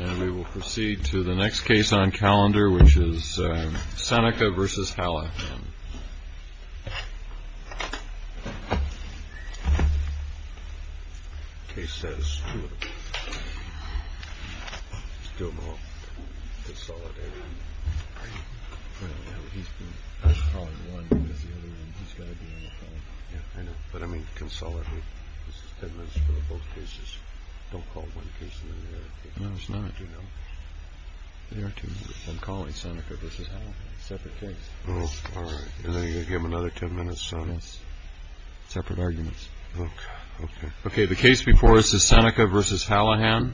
And we will proceed to the next case on calendar, which is Seneca versus Halla. Case status, two of them. Still both. Consolidated. Well, he's been calling one, because the other one, he's got to be on the phone. Yeah, I know. But I mean, consolidate. This is ten minutes for both cases. Don't call one case and then the other case. No, it's not. I do know. There are two. I'm calling Seneca versus Halla. Separate case. Give him another 10 minutes. Separate arguments. OK. OK. The case before us is Seneca versus Hallahan. As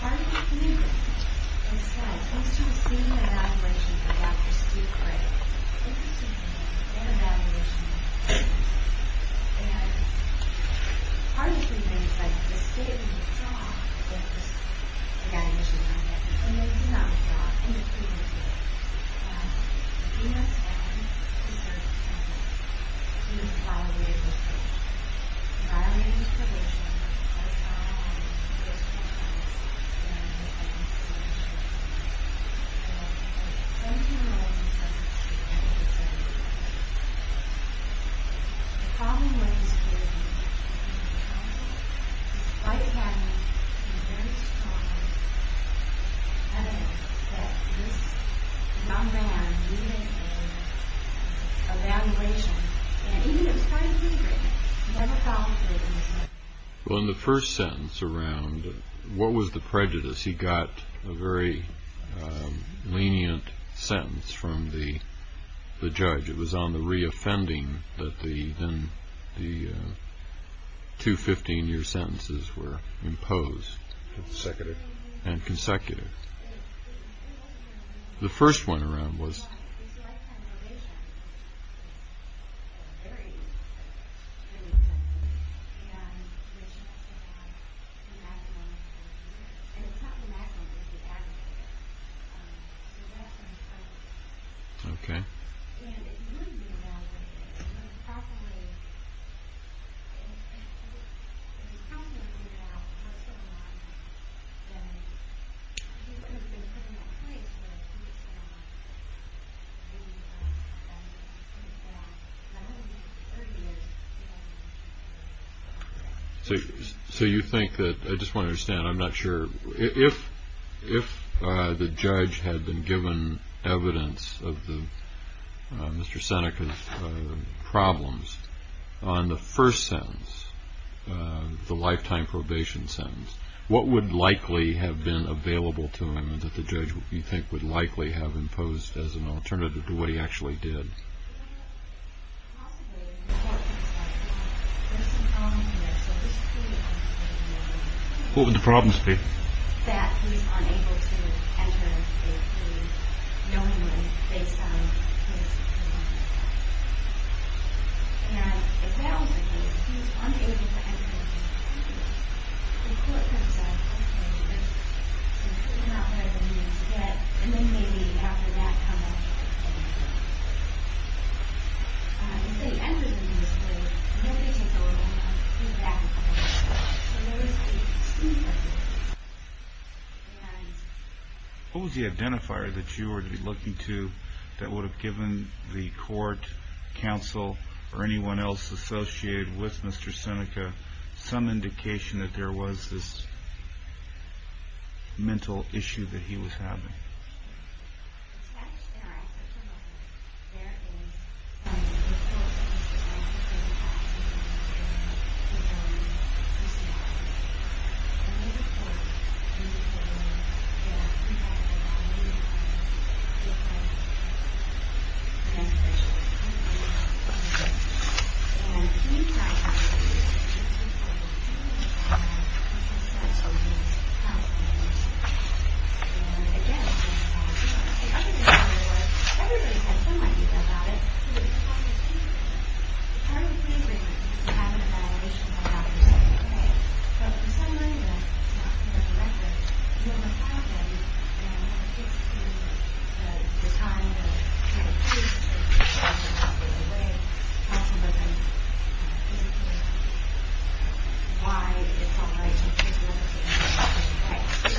part of the committee, it says, thanks to a senior evaluation from Dr. Steve Gray, an evaluation, and part of the thing is that the state of the job, that this evaluation is going to be, and it's not a job, and it's a community, but the dean of staff and the board of trustees, we are able to evaluate his probation, as well as his compliance and his financial issues. Thank you, Mr. President. The problem with his probation is that he's in trouble, despite having a very strong evidence that this young man needed an evaluation, and even if it was part of his agreement, he never validated it. Well, in the first sentence around, what was the prejudice? He got a very lenient sentence from the judge. It was on the reoffending that the two 15-year sentences were imposed. Consecutive. And consecutive. The first one around was... ...the maximum. And it's not the maximum, it's the aggregate. Okay. And it wouldn't be evaluated. It would have probably... It would have probably been found out for a certain amount of time, and he would have been put in that place where he was sent off, and put back another 30 years. So you think that... I just want to understand, I'm not sure. If the judge had been given evidence of Mr. Seneca's problems, on the first sentence, the lifetime probation sentence, what would likely have been available to him that the judge, you think, would likely have imposed as an alternative to what he actually did? What would the problems be? And then maybe after that... What was the identifier that you were looking to that would have given the court, counsel, or anyone else associated with Mr. Seneca some indication that there was this mental issue that he was having? I'm sorry. Why it's all right to...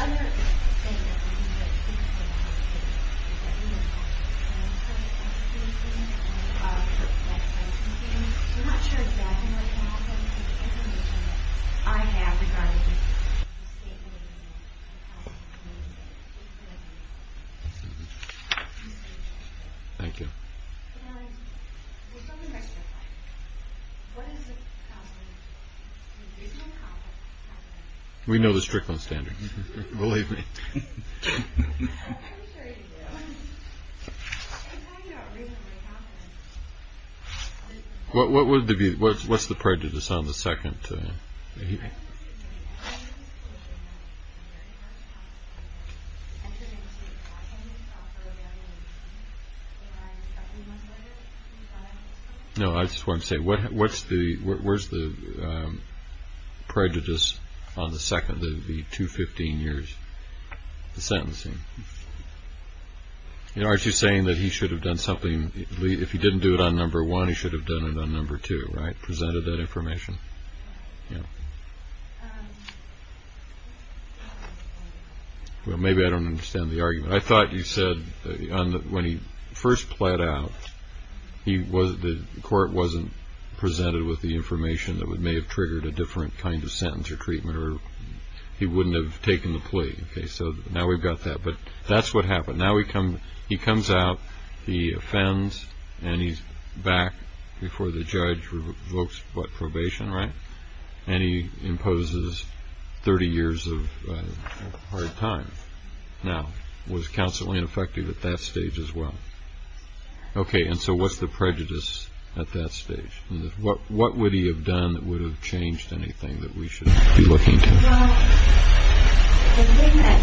Thank you. We know the Strickland standards. Believe me. What's the prejudice on the second? I'm sorry. No, I just wanted to say, what's the... Where's the prejudice on the second, the two 15 years, the sentencing? You know, aren't you saying that he should have done something... If he didn't do it on number one, he should have done it on number two, right? Yeah. Well, maybe I don't understand the argument. I thought you said that when he first pled out, the court wasn't presented with the information that may have triggered a different kind of sentence or treatment, or he wouldn't have taken the plea. Okay, so now we've got that, but that's what happened. Now he comes out, he offends, and he's back before the judge revokes probation, right? And he imposes 30 years of hard time. Now, was counsel ineffective at that stage as well? Okay, and so what's the prejudice at that stage? What would he have done that would have changed anything that we should be looking to? It was, you know,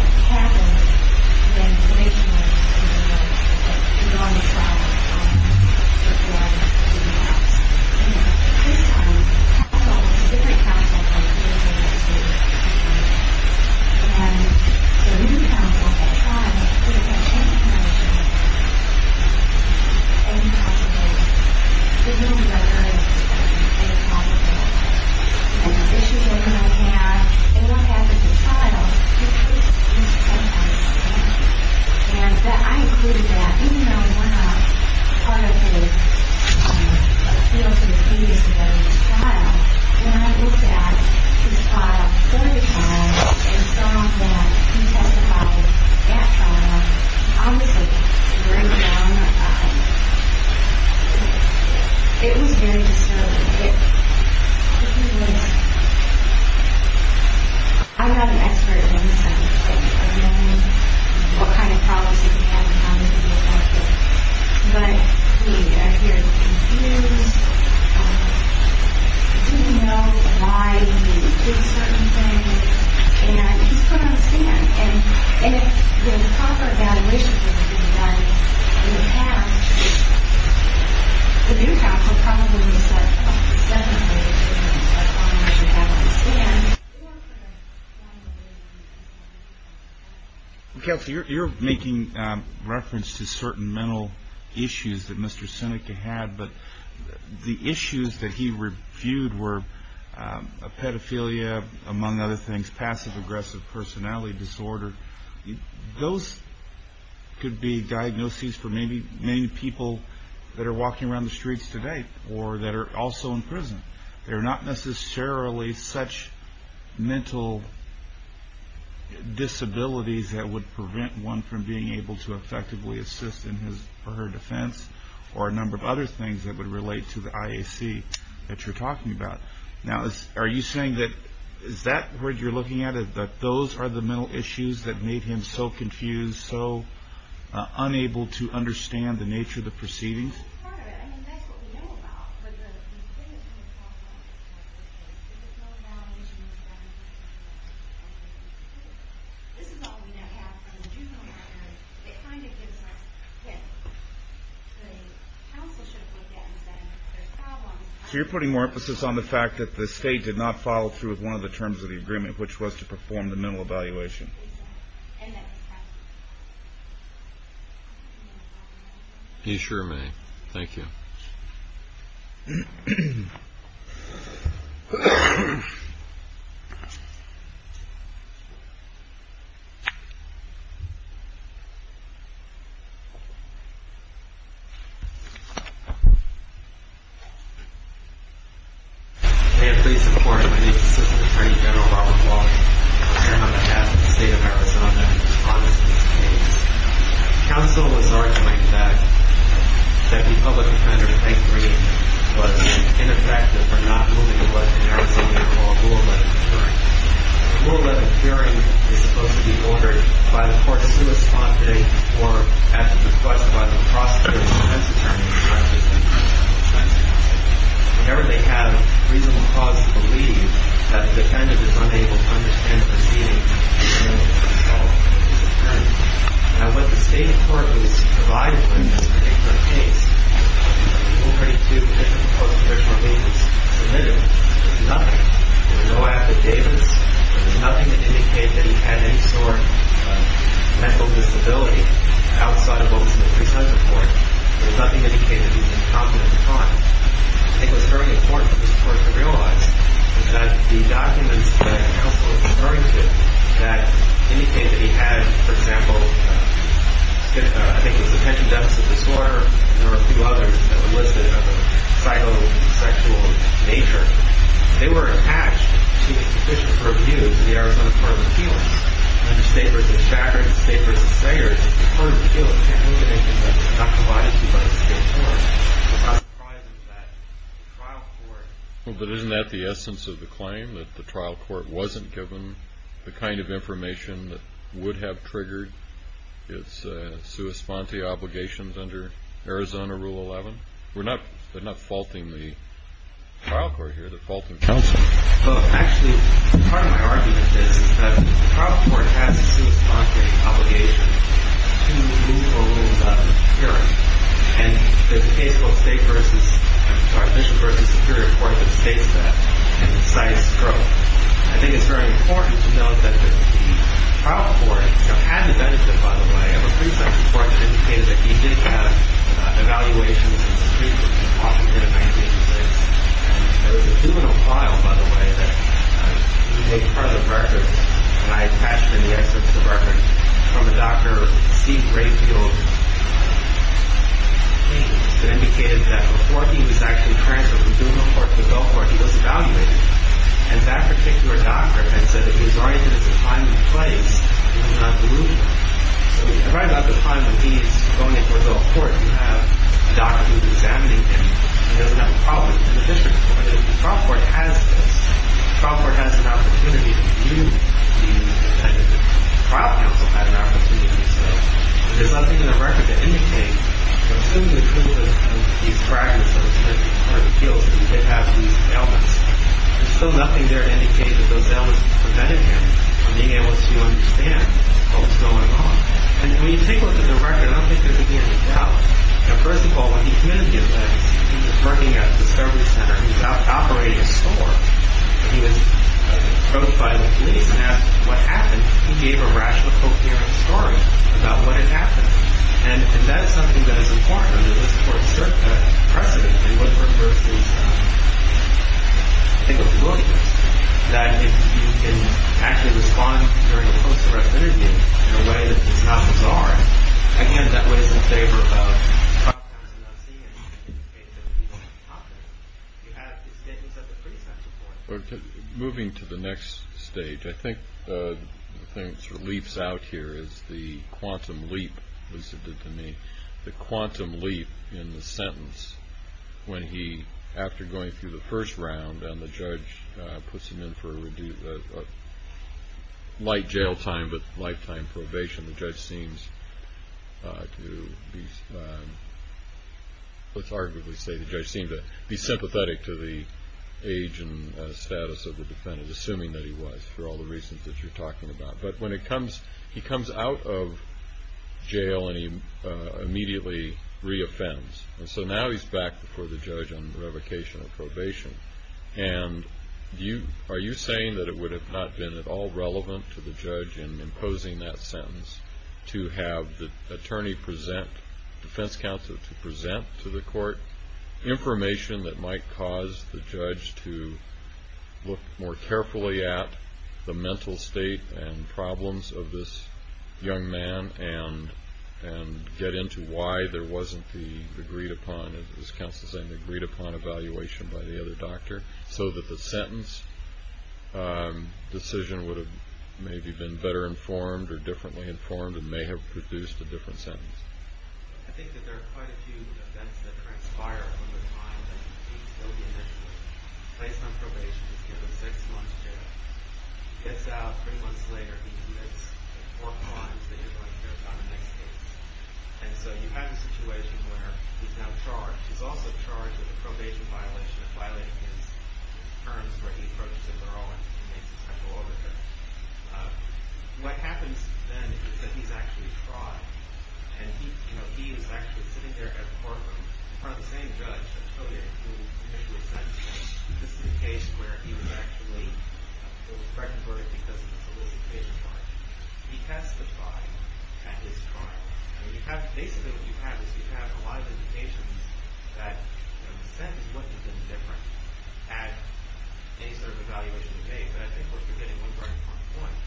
his son had all the different counsels that he was able to. And the reason counsel had tried was because she had a connection to him and he had to be there. He didn't know what her experience was, and he had to be there. And the issues that he might have, they might have with his child, he could have used counsel. And I included that. Even though we're not part of his, you know, sort of previous marriage trial, when I looked at his trial, third trial, and saw that he testified at trial, honestly, to bring down that guy, it was very disturbing. I'm not an expert on this kind of thing. I don't know what kind of problems he had and how he could be affected. But he appeared confused. He didn't know why he did certain things. And he's put on stand. And if the proper evaluation for the new guidance we would have, the new counsel probably would have said, oh, there's definitely a difference that we should have on stand. Kelsey, you're making reference to certain mental issues that Mr. Seneca had, but the issues that he reviewed were pedophilia, among other things, passive-aggressive personality disorder. Those could be diagnoses for maybe many people or that are also in prison. They're not necessarily such mental disabilities that would prevent one from being able to effectively assist in his or her defense or a number of other things that would relate to the IAC that you're talking about. Now, are you saying that is that what you're looking at, that those are the mental issues that made him so confused, so unable to understand the nature of the proceedings? If there's no evaluation, this is all we now have from the juvenile matter. It kind of gives us, the counsel should have looked at it and said, there's problems. So you're putting more emphasis on the fact that the state did not follow through with one of the terms of the agreement, which was to perform the mental evaluation. Exactly. He sure may. Thank you. Thank you. May it please the court, my name is Assistant Attorney General Robert Walker. I am on behalf of the state of Arizona in response to this case. Counsel was arguing that the public defender, I agree, was ineffective for not moving what in Arizona we call rule 11 curing. Rule 11 curing is supposed to be ordered by the court's correspondent or at the request of the prosecutor's defense attorney in front of his defense counsel. Whenever they have reasonable cause to believe that the defendant is unable to understand the proceedings, he's unable to control the defense attorney. Now, what the state court has provided in this particular case, people are ready to make a proposal if there's more reasons to move. There's nothing. There's no affidavits. There's nothing to indicate that he had any sort of mental disability outside of what was in the pre-sum report. There's nothing to indicate that he was incompetent at the time. I think what's very important for this court to realize is that the documents that counsel is referring to that indicate that he had, for example, I think it was attention deficit disorder and there were a few others that were listed of a psycho-sexual nature, they were attached to a sufficient purview to the Arizona Court of Appeals. Under state v. Shatner and state v. Sayers, the Court of Appeals can't move anything that's not provided to you by the state court. So how surprising is that the trial court... Well, but isn't that the essence of the claim, that the trial court wasn't given the kind of information that would have triggered its sui sponte obligations under Arizona Rule 11? They're not faulting the trial court here. They're faulting counsel. Well, actually, part of my argument is that the trial court has a sui sponte obligation to move a rule about an appearance. And there's a case called state v. Our official v. Superior Court that states that in concise stroke. I think it's very important to note that the trial court had the benefit, by the way, of a pre-session court that indicated that he did have evaluations in the streets of Washington in 1986. And there was a juvenile file, by the way, that we take as part of the record, and I attached in the excerpt to the record from a Dr. Steve Rayfield case that indicated that before he was actually transferred from juvenile court to adult court, he was evaluated. And that particular doctor had said that he was already going to find a place and not remove him. So if you write about the time that he's going into adult court, you have a doctor who's examining him. He doesn't have a problem. It's an official record. The trial court has this. The trial court has an opportunity to review the defendant. The trial counsel had an opportunity to do so. But there's nothing in the record that indicates that assuming the criminal is one of these fragments of a certain group of appeals and they have these ailments, there's still nothing there to indicate that those ailments prevented him from being able to understand what was going on. And when you take a look at the record, I don't think there's any doubt that first of all, when he came into the offense, he was working at the service center. He was operating a store. He was approached by the police and asked what happened. He gave a rational, coherent story about what had happened. And that's something that is important in order to assert precedent and what first is I think a willingness that if you can actually respond during a post-arrest interview in a way that is not bizarre, again, that way is in favor of the trial counsel not seeing anything in the case of the police officer. You have these statements that are pretty central points. Moving to the next stage, I think the thing that sort of leaps out here is the quantum leap, as Lucid did to me, the quantum leap in the sentence when he, after going through the first round, and the judge puts him in for a light jail time but lifetime probation, the judge seems to be, let's arguably say, the judge seemed to be sympathetic to the age and status of the defendant, assuming that he was for all the reasons that you're talking about. But when he comes out of jail and he immediately re-offends, so now he's back before the judge on revocation or probation, and are you saying that it would have not been at all relevant to the judge in imposing that sentence to have the attorney present, defense counsel to present to the court information that might cause the judge to look more carefully at the mental state and problems of this young man and get into why there wasn't the agreed-upon, as counsel's saying, the agreed-upon evaluation by the other doctor, so that the sentence decision would have maybe been better informed or differently informed and may have produced a different sentence? I think that there are quite a few events that transpire from the time that he's still being in prison. He's placed on probation, he's given six months jail, he gets out three months later, he commits four crimes that he's going to get on the next case. And so you have a situation where he's now charged. He's also charged with a probation violation of violating his terms where he approaches a girl and makes a sexual overture. What happens then is that he's actually tried, and he was actually sitting there at the courtroom in front of the same judge that Todek, who was sent home. This is a case where he was actually fraternized because of a solicitation charge. He testified at his trial and basically what you have is you have a lot of indications that the sentence wouldn't have been different at any sort of evaluation he made, but I think we're forgetting one very important point.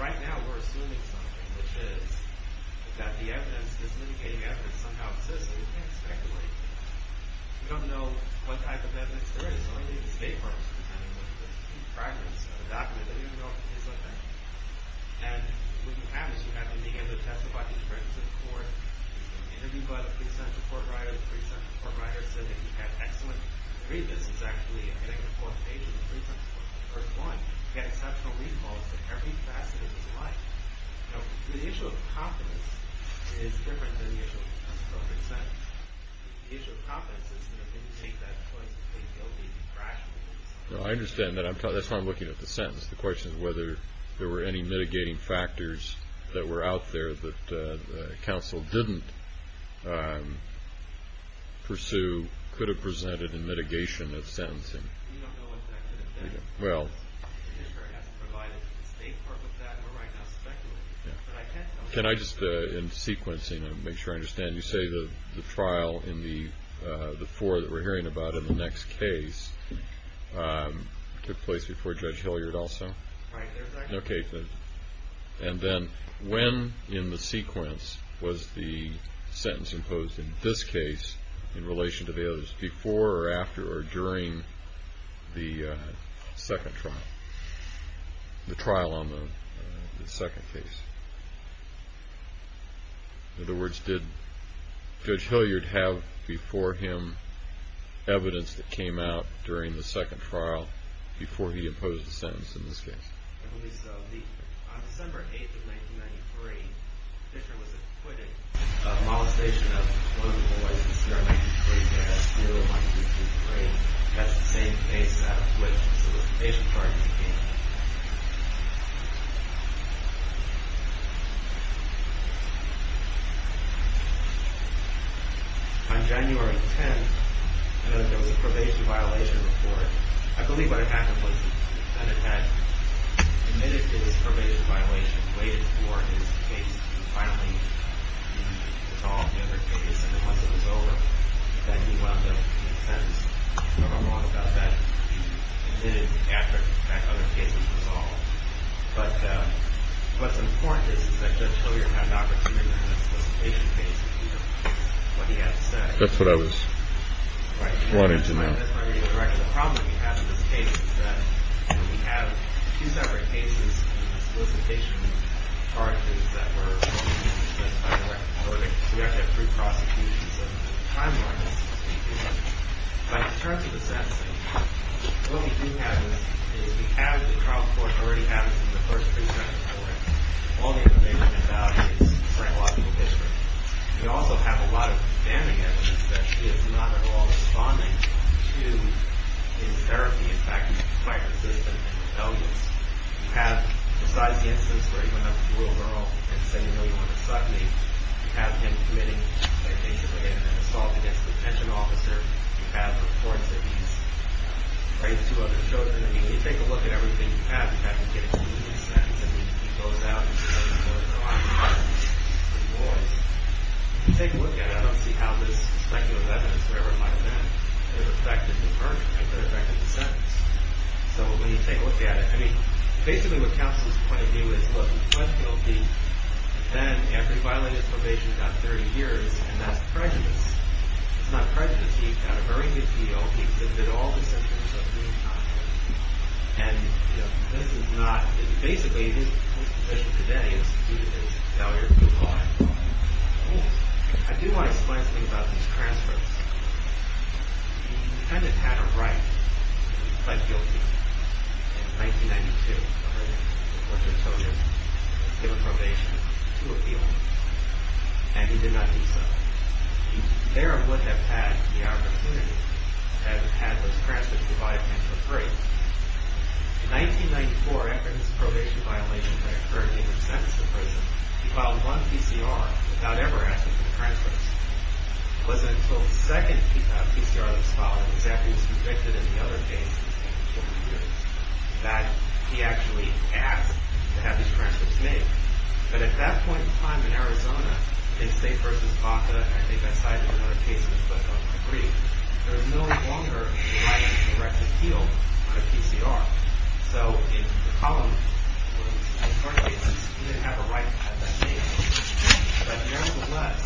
Right now we're assuming something, which is that the evidence, this litigating evidence, somehow exists and we can't speculate. We don't know what type of evidence there is, so maybe the State Department is pretending that there's fragments of a document that we don't know is there. And what you have is you have him begin to testify in front of the court, and then you've got a pre-sentence report writer. The pre-sentence report writer said that he had excellent read. This is actually, I think, the fourth page of the pre-sentence report, the first one. He had exceptional read quality. Every facet of his life. Now, the issue of competence is different than the issue of pre-sentence. The issue of competence is that if you take that choice to make guilty, you rationally do so. No, I understand that. That's why I'm looking at the sentence. The question is whether there were any mitigating factors that were out there that counsel didn't pursue, could have presented in mitigation of sentencing. We don't know what that could have been. Well... The judiciary hasn't provided to the State Department that, and we're right now speculating. Can I just, in sequencing, make sure I understand, you say the trial in the four that we're hearing about in the next case took place before Judge Hilliard also? Right. Okay. And then, when in the sequence was the sentence imposed in this case in relation to the others before or after or during the second trial, the trial on the second case? In other words, did Judge Hilliard have before him evidence that came out during the second trial before he imposed the sentence in this case? I believe so. On December 8th of 1993, Fisher was acquitted. A molestation of one of the boys this year, in 1993, they had a steel, in 1993, that's the same case out of which the solicitation parties came. On January 10th, I know there was a probation violation report. I believe what happened was that the defendant had admitted to this probation violation, waited for his case to finally be resolved, the other case, and then once it was over, that he wound up in a sentence. I don't know how wrong about that. He admitted after that other case was resolved. But what's important is that Judge Hilliard had an opportunity in the solicitation case to hear what he had to say. That's what I was wanting to know. Right. The problem that we have with this case is that we have two separate cases in the solicitation parties that were formally sentenced by the record. So we actually have three prosecutions in the timeline, so to speak. But in terms of the sentencing, what we do have is we have the trial court already having some of the first three sentences already. All we have to worry about is psychological history. We also have a lot of standing evidence that she is not at all responding to in therapy. In fact, she's quite resistant and rebellious. We have precise instances where he went up to a little girl and said, you know, you want to suck me. We have him committing a patient with an assault against a detention officer. We have reports that he's raped two other children. I mean, when you take a look at everything you have, you have to get it to me in a sentence. I mean, if he goes out and he says, you know, I'm not going to speak to the boys. If you take a look at it, I don't see how this speculative evidence or whatever it might have been could have affected the verdict and could have affected the sentence. So when you take a look at it, I mean, basically what counts as a point of view is, look, he pled guilty. Then, after he violated probation about 30 years, and that's prejudice. It's not prejudice. He got a very good deal. He submitted all the sentences at the same time. And, you know, this is not, basically, his position today is failure to comply. I do want to explain something about these transcripts. He kind of had a right to be pled guilty. In 1992, the verdict, which I told you, was to give a probation to a female. And he did not do so. He very well would have had the opportunity to have had those transcripts provided to him for free. In 1994, after his probation violation had occurred and he was sentenced to prison, he filed one PCR without ever asking for the transcripts. It wasn't until the second PCR that was filed, exactly as he predicted in the other case, that he actually asked to have his transcripts made. But at that point in time, in Arizona, they say versus Baca, and I think that's cited in other cases, but I don't agree. There is no longer the right to appeal on a PCR. So, if the column was in court cases, he didn't have a right to have that made. But, nevertheless,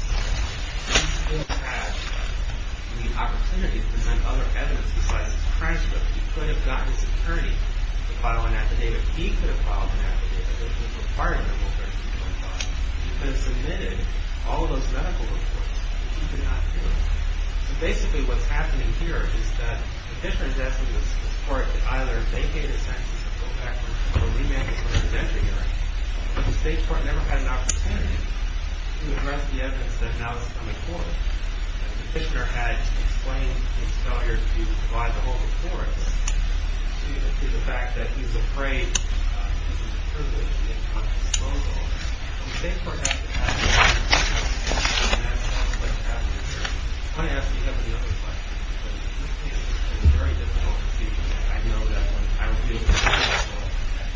he still had the opportunity to present other evidence besides his transcripts. He could have gotten his attorney to file an affidavit. He could have filed an affidavit that was required under Rule 13.5. He could have submitted all of those medical reports that he did not do. So, basically, what's happening here is that the fishermen's estimates in this court that either they paid a sentence or go back or remand it for an intervention hearing, but the state court never had an opportunity to address the evidence that now is on the court. And the petitioner had explained his failure to provide the whole report to the fact that he's afraid he's in the privilege of being a conscious loan holder. So, the state court hasn't had an opportunity to address all of those questions here. I want to ask if you have any other questions because this case is a very difficult procedure and I know that when I reviewed the case, I saw that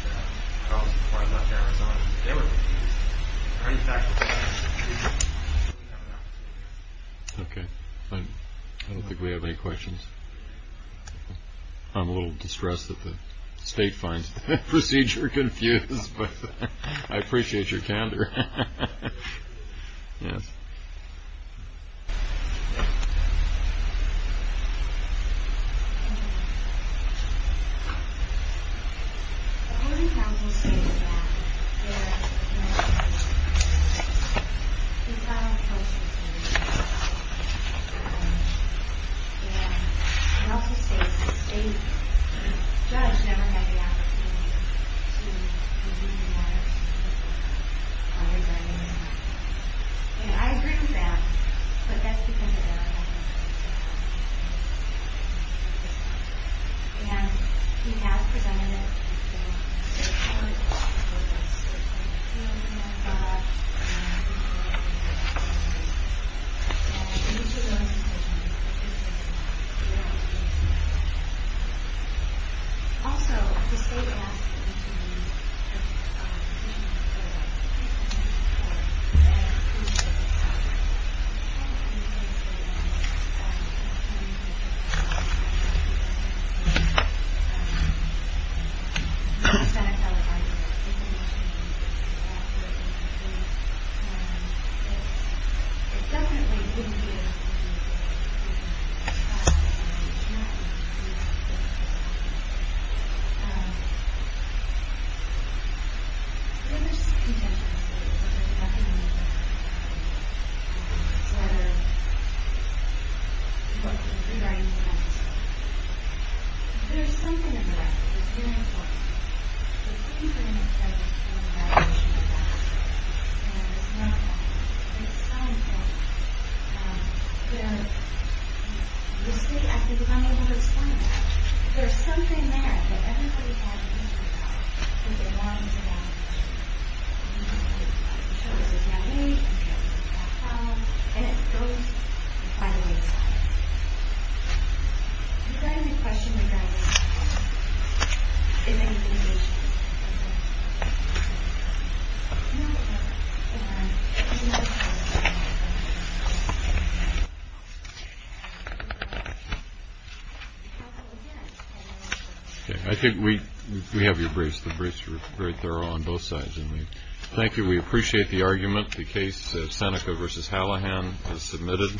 Charles McCoy left Arizona because they were trying to get him to come back to the state. I don't think we have any questions. I'm a little distressed that the state finds the procedure confused, but I appreciate your candor. Yes. The court of counsel stated that there is a violation of the constitutional law and also states that the state case. And I think that the state judge has a right to review the matters that were presented in the case and I think that the state has a right to review the matters the state has a right to review the matters that were presented in the case. And we have presented it in court and in other public hearings and we have provided a list for them and each of those cases we found some also the state to review the matters that were presented in court and in other public hearings and we have provided a list for them and each of those cases we have provided a list for them and each of those cases we have provided a list for all... Thank you... I think we have the briefs very thorough on both sides so thank you we appreciate the argument the case Seneca versus Hallahan is submitted...